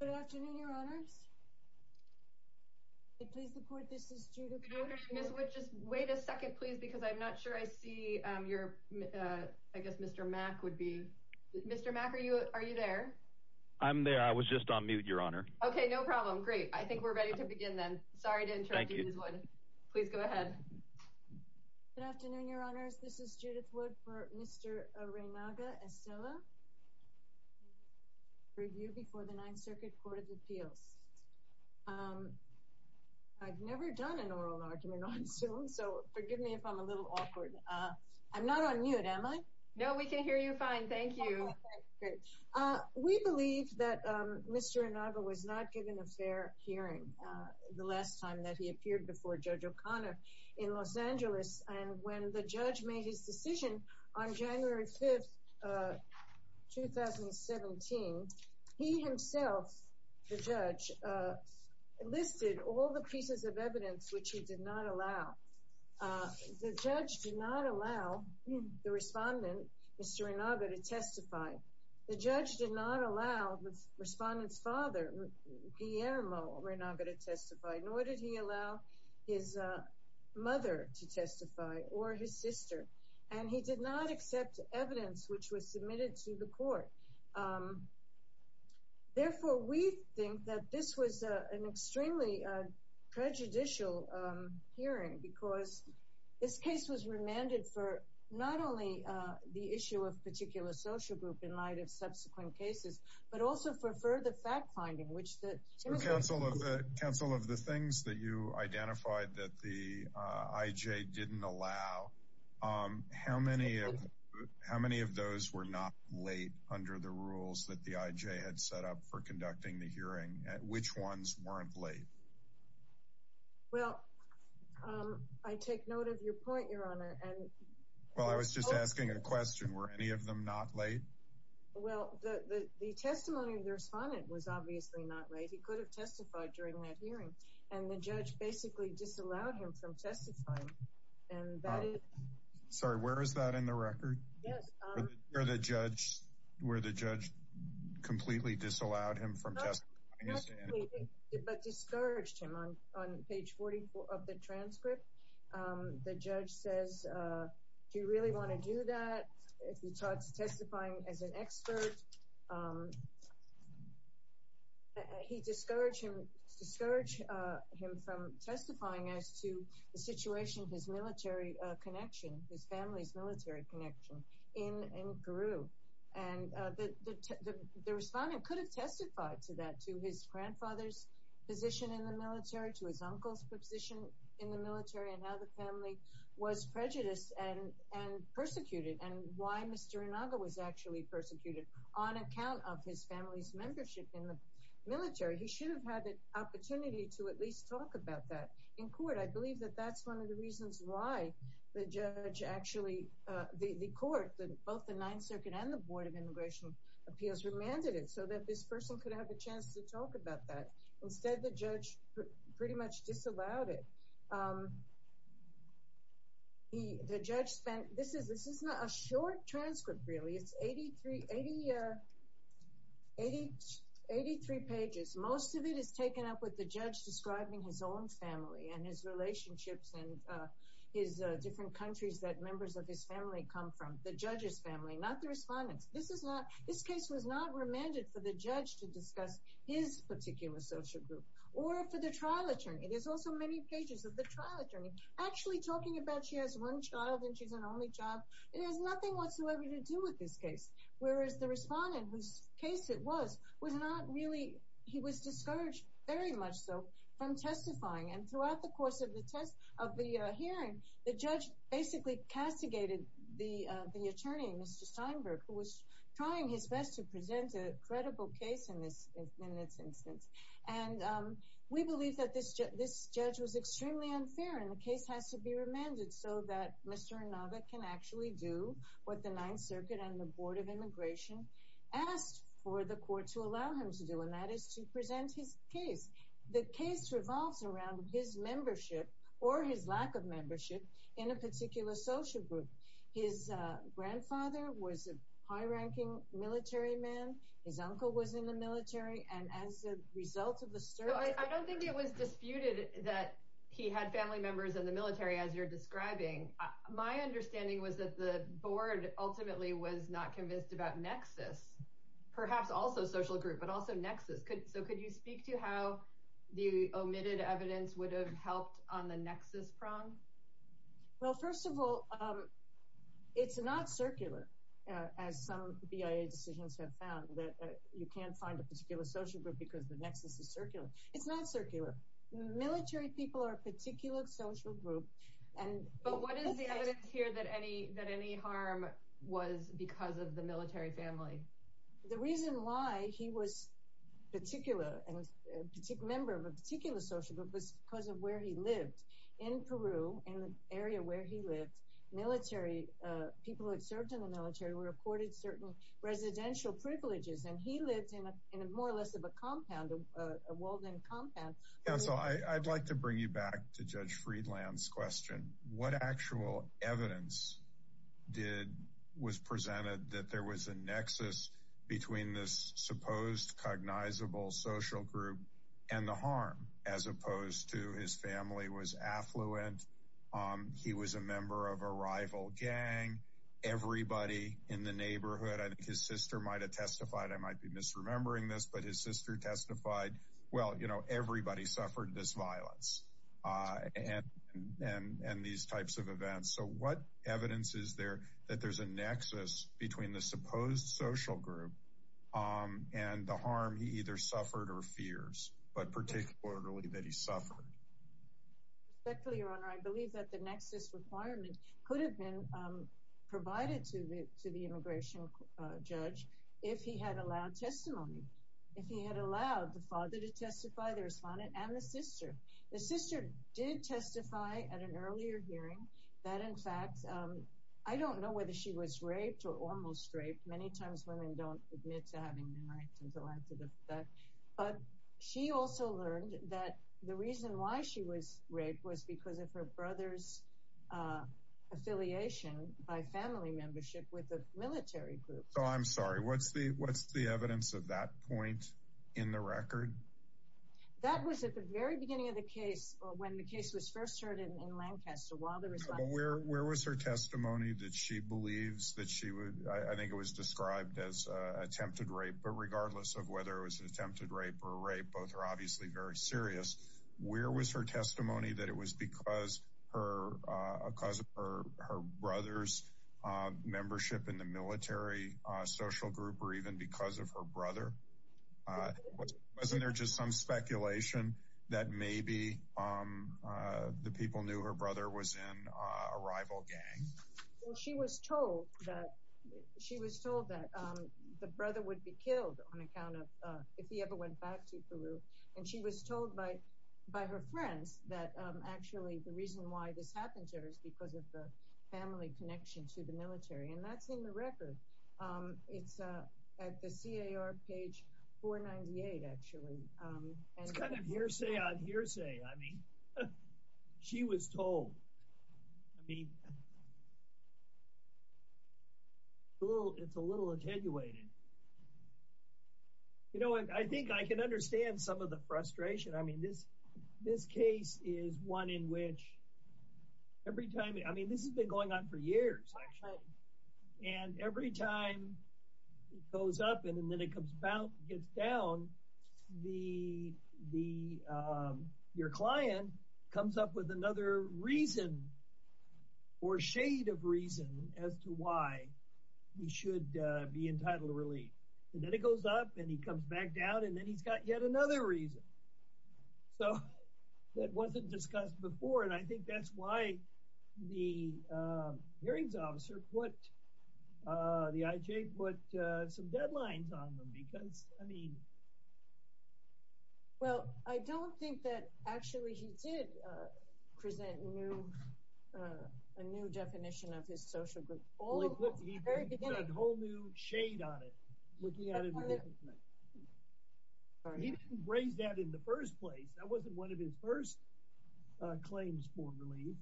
Good afternoon, Your Honors. Please report, this is Judith Wood. Good afternoon, Ms. Wood. Just wait a second, please, because I'm not sure I see your... I guess Mr. Mack would be... Mr. Mack, are you there? I'm there. I was just on mute, Your Honor. Okay, no problem. Great. I think we're ready to begin then. Sorry to interrupt you, Ms. Wood. Please go ahead. Good afternoon, Your Honors. This is Judith Wood for Mr. Reynaga Estella. Review before the Ninth Circuit Court of Appeals. I've never done an oral argument on Zoom, so forgive me if I'm a little awkward. I'm not on mute, am I? No, we can hear you fine. Thank you. Great. We believe that Mr. Reynaga was not given a fair hearing the last time that he appeared before Judge O'Connor in Los Angeles. And when the judge made his decision on January 5th, 2017, he himself, the judge, listed all the pieces of evidence which he did not allow. The judge did not allow the respondent, Mr. Reynaga, to testify. The judge did not allow the respondent's father, Guillermo Reynaga, to testify. Nor did he allow his mother to testify, or his sister. And he did not accept evidence which was submitted to the court. Therefore, we think that this was an extremely prejudicial hearing because this case was remanded for not only the issue of particular social group in light of subsequent cases, but also for further fact-finding, which the… Counsel, of the things that you identified that the IJ didn't allow, how many of those were not late under the rules that the IJ had set up for conducting the hearing? Which ones weren't late? Well, I take note of your point, Your Honor, and… Well, I was just asking a question. Were any of them not late? Well, the testimony of the respondent was obviously not late. He could have testified during that hearing. And the judge basically disallowed him from testifying, and that is… Sorry, where is that in the record? Yes. Where the judge completely disallowed him from testifying? Not completely, but discouraged him. On page 44 of the transcript, the judge says, do you really want to do that? If he starts testifying as an expert, he discouraged him from testifying as to the situation of his military connection, his family's military connection in Peru. And the respondent could have testified to that, to his grandfather's position in the military, to his uncle's position in the military, and how the family was prejudiced and persecuted, and why Mr. Inaga was actually persecuted on account of his family's membership in the military. He should have had the opportunity to at least talk about that in court. I believe that that's one of the reasons why the judge actually, the court, both the Ninth Circuit and the Board of Immigration Appeals, remanded it so that this person could have a chance to talk about that. Instead, the judge pretty much disallowed it. The judge spent, this is not a short transcript, really. It's 83 pages. Most of it is taken up with the judge describing his own family and his relationships and his different countries that members of his family come from. The judge's family, not the respondent's. This case was not remanded for the judge to discuss his particular social group or for the trial attorney. There's also many pages of the trial attorney actually talking about she has one child and she's an only child. It has nothing whatsoever to do with this case, whereas the respondent, whose case it was, was not really, he was discouraged very much so from testifying. Throughout the course of the hearing, the judge basically castigated the attorney, Mr. Steinberg, who was trying his best to present a credible case in this instance. We believe that this judge was extremely unfair and the case has to be remanded so that Mr. Inaga can actually do what the Ninth Circuit and the Board of Immigration asked for the court to allow him to do, and that is to present his case. The case revolves around his membership or his lack of membership in a particular social group. His grandfather was a high-ranking military man. His uncle was in the military, and as a result of the search— I don't think it was disputed that he had family members in the military, as you're describing. My understanding was that the board ultimately was not convinced about nexus, perhaps also social group, but also nexus. So could you speak to how the omitted evidence would have helped on the nexus prong? Well, first of all, it's not circular, as some BIA decisions have found, that you can't find a particular social group because the nexus is circular. It's not circular. Military people are a particular social group. But what is the evidence here that any harm was because of the military family? The reason why he was a member of a particular social group was because of where he lived. In Peru, in the area where he lived, people who had served in the military were accorded certain residential privileges, and he lived in more or less of a compound, a walled-in compound. Counsel, I'd like to bring you back to Judge Friedland's question. What actual evidence was presented that there was a nexus between this supposed cognizable social group and the harm, as opposed to his family was affluent, he was a member of a rival gang, everybody in the neighborhood— I think his sister might have testified. I might be misremembering this, but his sister testified. Well, you know, everybody suffered this violence and these types of events. So what evidence is there that there's a nexus between the supposed social group and the harm he either suffered or fears, but particularly that he suffered? Respectfully, Your Honor, I believe that the nexus requirement could have been provided to the immigration judge if he had allowed testimony, if he had allowed the father to testify, the respondent, and the sister. The sister did testify at an earlier hearing that, in fact, I don't know whether she was raped or almost raped. Many times women don't admit to having been raped until after the fact. But she also learned that the reason why she was raped was because of her brother's affiliation by family membership with a military group. So I'm sorry, what's the evidence of that point in the record? That was at the very beginning of the case, or when the case was first heard in Lancaster. Well, where was her testimony that she believes that she would—I think it was described as attempted rape, but regardless of whether it was attempted rape or rape, both are obviously very serious. Where was her testimony that it was because of her brother's membership in the military social group or even because of her brother? Wasn't there just some speculation that maybe the people knew her brother was in a rival gang? Well, she was told that the brother would be killed on account of if he ever went back to Peru. And she was told by her friends that actually the reason why this happened to her is because of the family connection to the military. And that's in the record. It's at the CAR page 498, actually. It's kind of hearsay on hearsay. I mean, she was told. I mean, it's a little attenuated. You know, I think I can understand some of the frustration. I mean, this case is one in which every time—I mean, this has been going on for years, actually. And every time it goes up and then it comes down, your client comes up with another reason or shade of reason as to why he should be entitled to relief. And then it goes up, and he comes back down, and then he's got yet another reason. So that wasn't discussed before, and I think that's why the hearings officer put—the IJ put some deadlines on them, because, I mean— Well, I don't think that actually he did present a new definition of his social group. He put a whole new shade on it, looking at it differently. He didn't raise that in the first place. That wasn't one of his first claims for relief.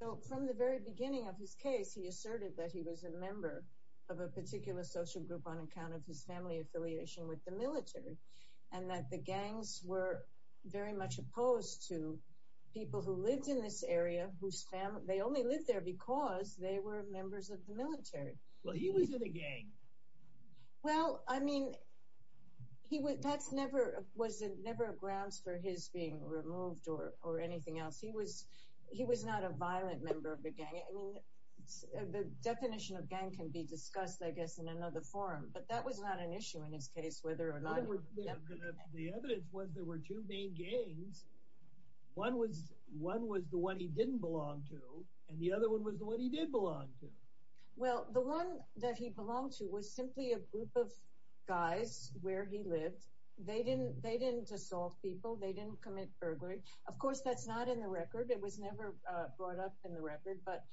Well, from the very beginning of his case, he asserted that he was a member of a particular social group on account of his family affiliation with the military, and that the gangs were very much opposed to people who lived in this area whose family—they only lived there because they were members of the military. Well, he was in a gang. Well, I mean, that was never a grounds for his being removed or anything else. He was not a violent member of the gang. I mean, the definition of gang can be discussed, I guess, in another forum, but that was not an issue in his case, whether or not— The evidence was there were two main gangs. One was the one he didn't belong to, and the other one was the one he did belong to. Well, the one that he belonged to was simply a group of guys where he lived. They didn't assault people. They didn't commit burglary. Of course, that's not in the record. It was never brought up in the record, but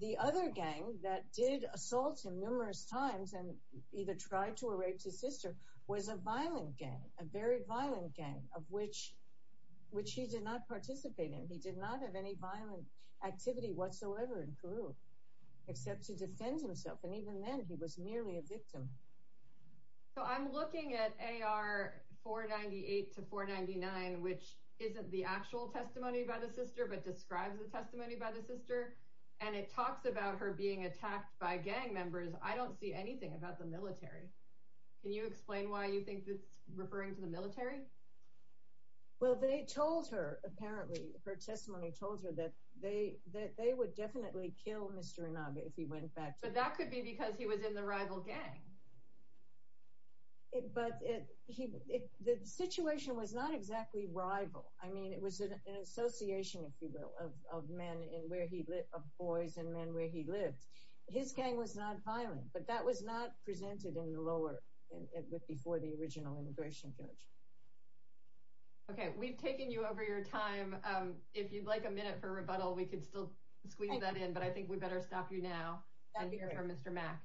the other gang that did assault him numerous times and either tried to or raped his sister was a violent gang, a very violent gang, of which he did not participate in. He did not have any violent activity whatsoever in Peru except to defend himself, and even then he was merely a victim. So I'm looking at AR 498 to 499, which isn't the actual testimony by the sister but describes the testimony by the sister, and it talks about her being attacked by gang members. I don't see anything about the military. Can you explain why you think it's referring to the military? Well, they told her, apparently, her testimony told her that they would definitely kill Mr. Inaga if he went back to Peru. But that could be because he was in the rival gang. But the situation was not exactly rival. I mean, it was an association, if you will, of boys and men where he lived. His gang was not violent, but that was not presented in the lower, before the original immigration judge. Okay, we've taken you over your time. If you'd like a minute for rebuttal, we could still squeeze that in, but I think we better stop you now and hear from Mr. Mack.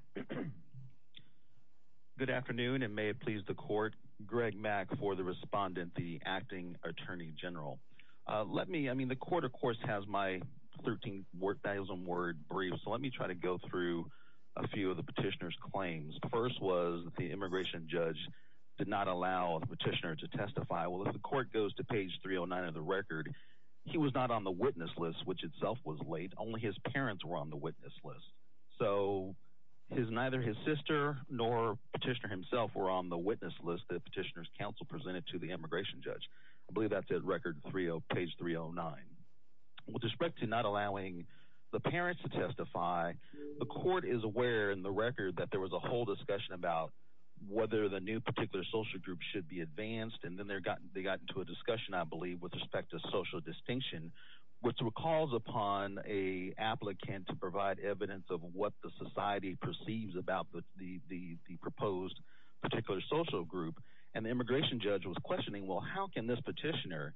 Good afternoon, and may it please the court. Greg Mack for the respondent, the acting attorney general. The court, of course, has my 13,000-word brief, so let me try to go through a few of the petitioner's claims. The first was the immigration judge did not allow the petitioner to testify. Well, if the court goes to page 309 of the record, he was not on the witness list, which itself was late. Only his parents were on the witness list. So neither his sister nor the petitioner himself were on the witness list that the petitioner's counsel presented to the immigration judge. I believe that's at page 309. With respect to not allowing the parents to testify, the court is aware in the record that there was a whole discussion about whether the new particular social group should be advanced. And then they got into a discussion, I believe, with respect to social distinction, which recalls upon an applicant to provide evidence of what the society perceives about the proposed particular social group. And the immigration judge was questioning, well, how can this petitioner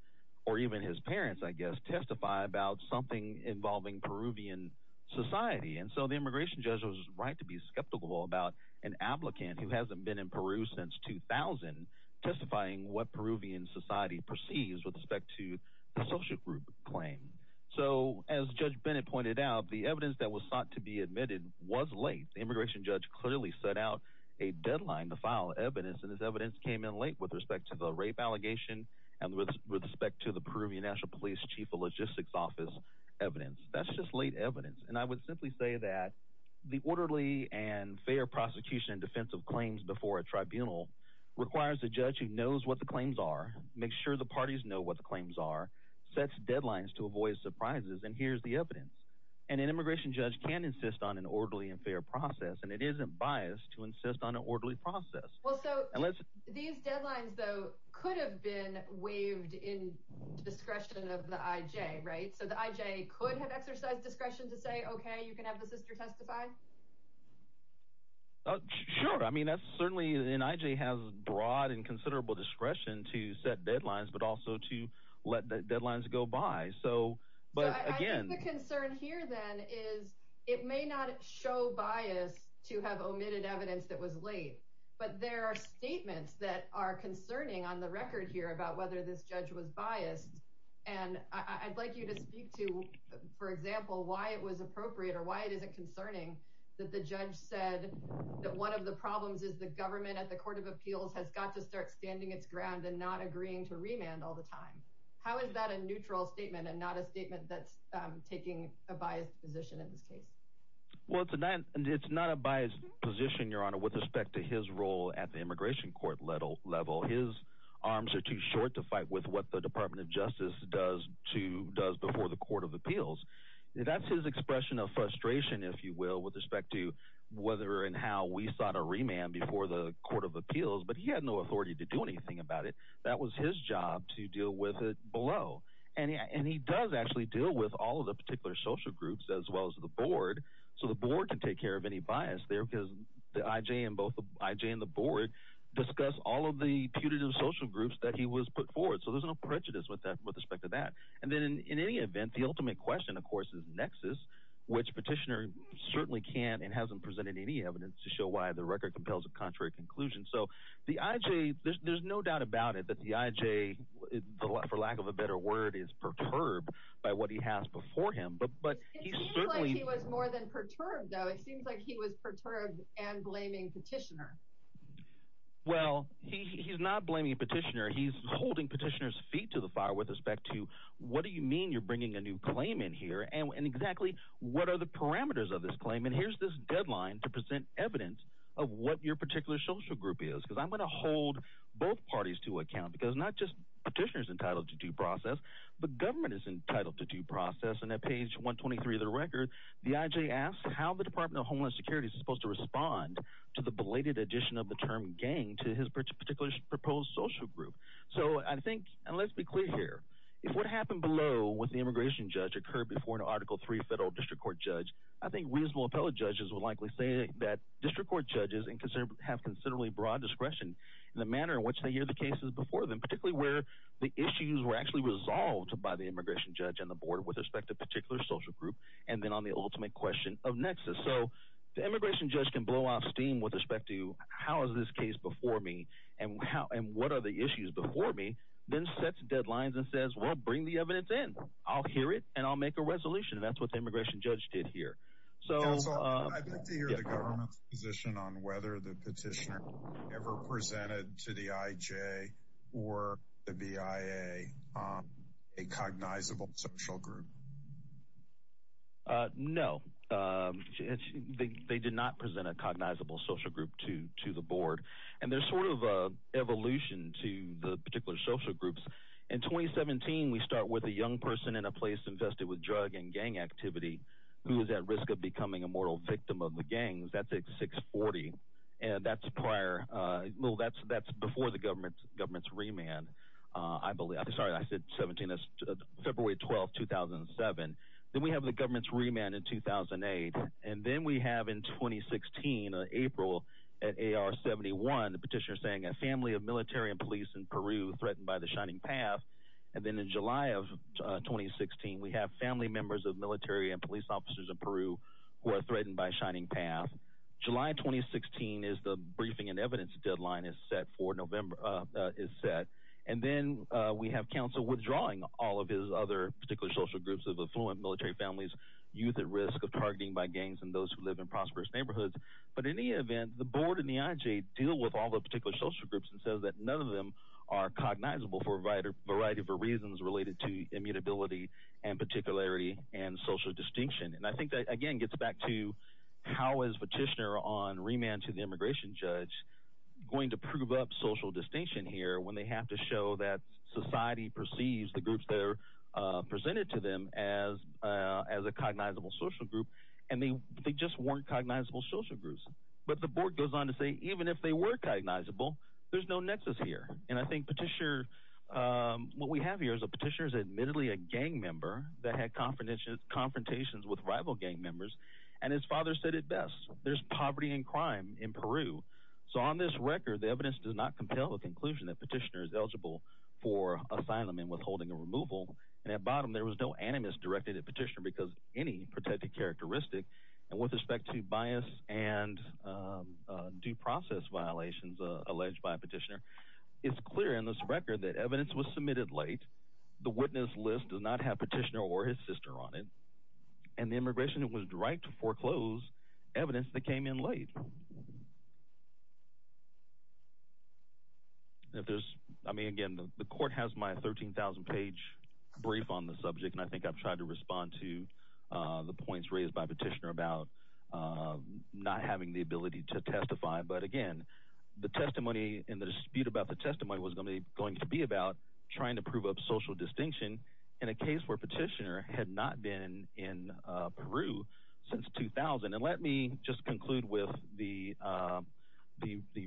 or even his parents, I guess, testify about something involving Peruvian society? And so the immigration judge was right to be skeptical about an applicant who hasn't been in Peru since 2000 testifying what Peruvian society perceives with respect to the social group claim. So as Judge Bennett pointed out, the evidence that was sought to be admitted was late. The immigration judge clearly set out a deadline to file evidence, and this evidence came in late with respect to the rape allegation and with respect to the Peruvian National Police Chief of Logistics Office evidence. That's just late evidence. And I would simply say that the orderly and fair prosecution and defense of claims before a tribunal requires a judge who knows what the claims are, makes sure the parties know what the claims are, sets deadlines to avoid surprises, and here's the evidence. And an immigration judge can insist on an orderly and fair process, and it isn't biased to insist on an orderly process. Well, so these deadlines, though, could have been waived in discretion of the IJ, right? So the IJ could have exercised discretion to say, OK, you can have the sister testify. Sure. I mean, that's certainly an IJ has broad and considerable discretion to set deadlines, but also to let the deadlines go by. So I think the concern here, then, is it may not show bias to have omitted evidence that was late, but there are statements that are concerning on the record here about whether this judge was biased. And I'd like you to speak to, for example, why it was appropriate or why it isn't concerning that the judge said that one of the problems is the government at the Court of Appeals has got to start standing its ground and not agreeing to remand all the time. How is that a neutral statement and not a statement that's taking a biased position in this case? Well, it's not a biased position, Your Honor, with respect to his role at the immigration court level. His arms are too short to fight with what the Department of Justice does before the Court of Appeals. That's his expression of frustration, if you will, with respect to whether and how we sought a remand before the Court of Appeals, but he had no authority to do anything about it. That was his job to deal with it below. And he does actually deal with all of the particular social groups as well as the board, so the board can take care of any bias there because the IJ and the board discuss all of the putative social groups that he was put forward. So there's no prejudice with respect to that. And then in any event, the ultimate question, of course, is nexus, which Petitioner certainly can't and hasn't presented any evidence to show why the record compels a contrary conclusion. So the IJ – there's no doubt about it that the IJ, for lack of a better word, is perturbed by what he has before him. But he certainly – It seems like he was more than perturbed, though. It seems like he was perturbed and blaming Petitioner. Well, he's not blaming Petitioner. He's holding Petitioner's feet to the fire with respect to what do you mean you're bringing a new claim in here and exactly what are the parameters of this claim? And here's this deadline to present evidence of what your particular social group is because I'm going to hold both parties to account because not just Petitioner is entitled to due process, but government is entitled to due process. And at page 123 of the record, the IJ asks how the Department of Homeless Security is supposed to respond to the belated addition of the term gang to his particular proposed social group. So I think – and let's be clear here. If what happened below with the immigration judge occurred before an Article III federal district court judge, I think reasonable appellate judges would likely say that district court judges have considerably broad discretion in the manner in which they hear the cases before them, particularly where the issues were actually resolved by the immigration judge and the board with respect to a particular social group and then on the ultimate question of nexus. So the immigration judge can blow out steam with respect to how is this case before me and what are the issues before me, then set deadlines and says, well, bring the evidence in. I'll hear it, and I'll make a resolution. That's what the immigration judge did here. So – Counsel, I'd like to hear the government's position on whether the Petitioner ever presented to the IJ or the BIA a cognizable social group. No. They did not present a cognizable social group to the board. And there's sort of an evolution to the particular social groups. In 2017, we start with a young person in a place invested with drug and gang activity who is at risk of becoming a mortal victim of the gangs. That's at 640. And that's prior – well, that's before the government's remand, I believe. Sorry, I said 17. That's February 12, 2007. Then we have the government's remand in 2008. And then we have in 2016, April, at AR-71, the Petitioner saying a family of military and police in Peru threatened by the Shining Path. And then in July of 2016, we have family members of military and police officers in Peru who are threatened by Shining Path. July 2016 is the briefing and evidence deadline is set for November – is set. And then we have counsel withdrawing all of his other particular social groups of affluent military families, youth at risk of targeting by gangs, and those who live in prosperous neighborhoods. But in any event, the board and the IJ deal with all the particular social groups and says that none of them are cognizable for a variety of reasons related to immutability and particularity and social distinction. And I think that, again, gets back to how is Petitioner on remand to the immigration judge going to prove up social distinction here when they have to show that society perceives the groups that are presented to them as a cognizable social group. And they just weren't cognizable social groups. But the board goes on to say even if they were cognizable, there's no nexus here. And I think Petitioner – what we have here is that Petitioner is admittedly a gang member that had confrontations with rival gang members, and his father said it best. There's poverty and crime in Peru. So on this record, the evidence does not compel a conclusion that Petitioner is eligible for asylum and withholding and removal. And at bottom, there was no animus directed at Petitioner because any protected characteristic. And with respect to bias and due process violations alleged by Petitioner, it's clear in this record that evidence was submitted late. The witness list does not have Petitioner or his sister on it. And the immigration was right to foreclose evidence that came in late. If there's – I mean, again, the court has my 13,000-page brief on the subject, and I think I've tried to respond to the points raised by Petitioner about not having the ability to testify. But, again, the testimony and the dispute about the testimony was going to be about trying to prove up social distinction in a case where Petitioner had not been in Peru since 2000. And let me just conclude with the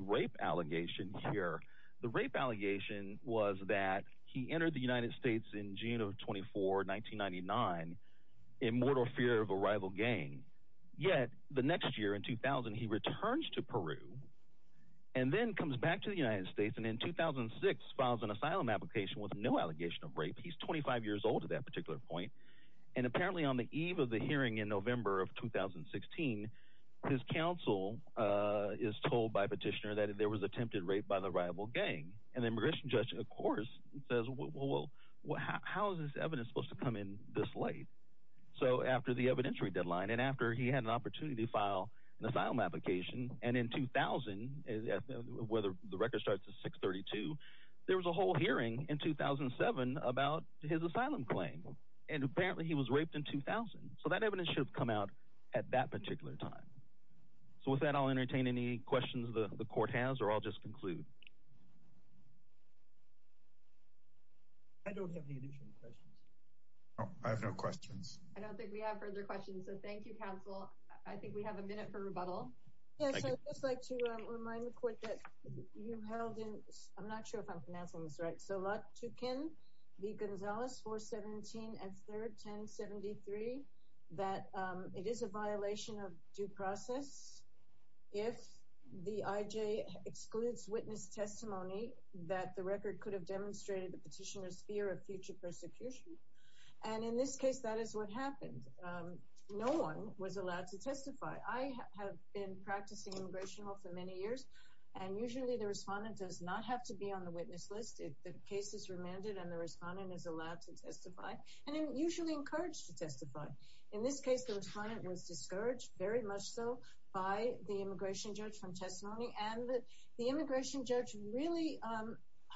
rape allegation here. The rape allegation was that he entered the United States in June of 24, 1999 in mortal fear of a rival gang. Yet the next year, in 2000, he returns to Peru and then comes back to the United States and in 2006 files an asylum application with no allegation of rape. He's 25 years old at that particular point. And apparently on the eve of the hearing in November of 2016, his counsel is told by Petitioner that there was attempted rape by the rival gang. And the immigration judge, of course, says, well, how is this evidence supposed to come in this late? So after the evidentiary deadline and after he had an opportunity to file an asylum application, and in 2000, where the record starts at 6-32, there was a whole hearing in 2007 about his asylum claim. And apparently he was raped in 2000. So that evidence should have come out at that particular time. So with that, I'll entertain any questions the court has or I'll just conclude. I don't have any additional questions. I have no questions. I don't think we have further questions, so thank you, counsel. I think we have a minute for rebuttal. Yes, I'd just like to remind the court that you held in – I'm not sure if I'm pronouncing this right. So Lotukhin v. Gonzalez, 4-17 and 3rd, 10-73, that it is a violation of due process if the IJ excludes witness testimony that the record could have demonstrated the petitioner's fear of future persecution. And in this case, that is what happened. No one was allowed to testify. I have been practicing immigration law for many years, and usually the respondent does not have to be on the witness list. The case is remanded and the respondent is allowed to testify and usually encouraged to testify. In this case, the respondent was discouraged, very much so, by the immigration judge from testimony. And the immigration judge really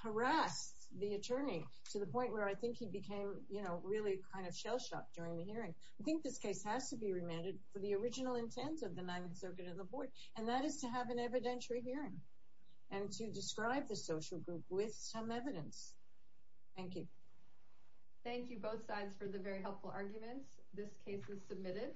harassed the attorney to the point where I think he became really kind of shell-shocked during the hearing. I think this case has to be remanded for the original intent of the Ninth Circuit and the board, and that is to have an evidentiary hearing and to describe the social group with some evidence. Thank you. Thank you, both sides, for the very helpful arguments. This case is submitted.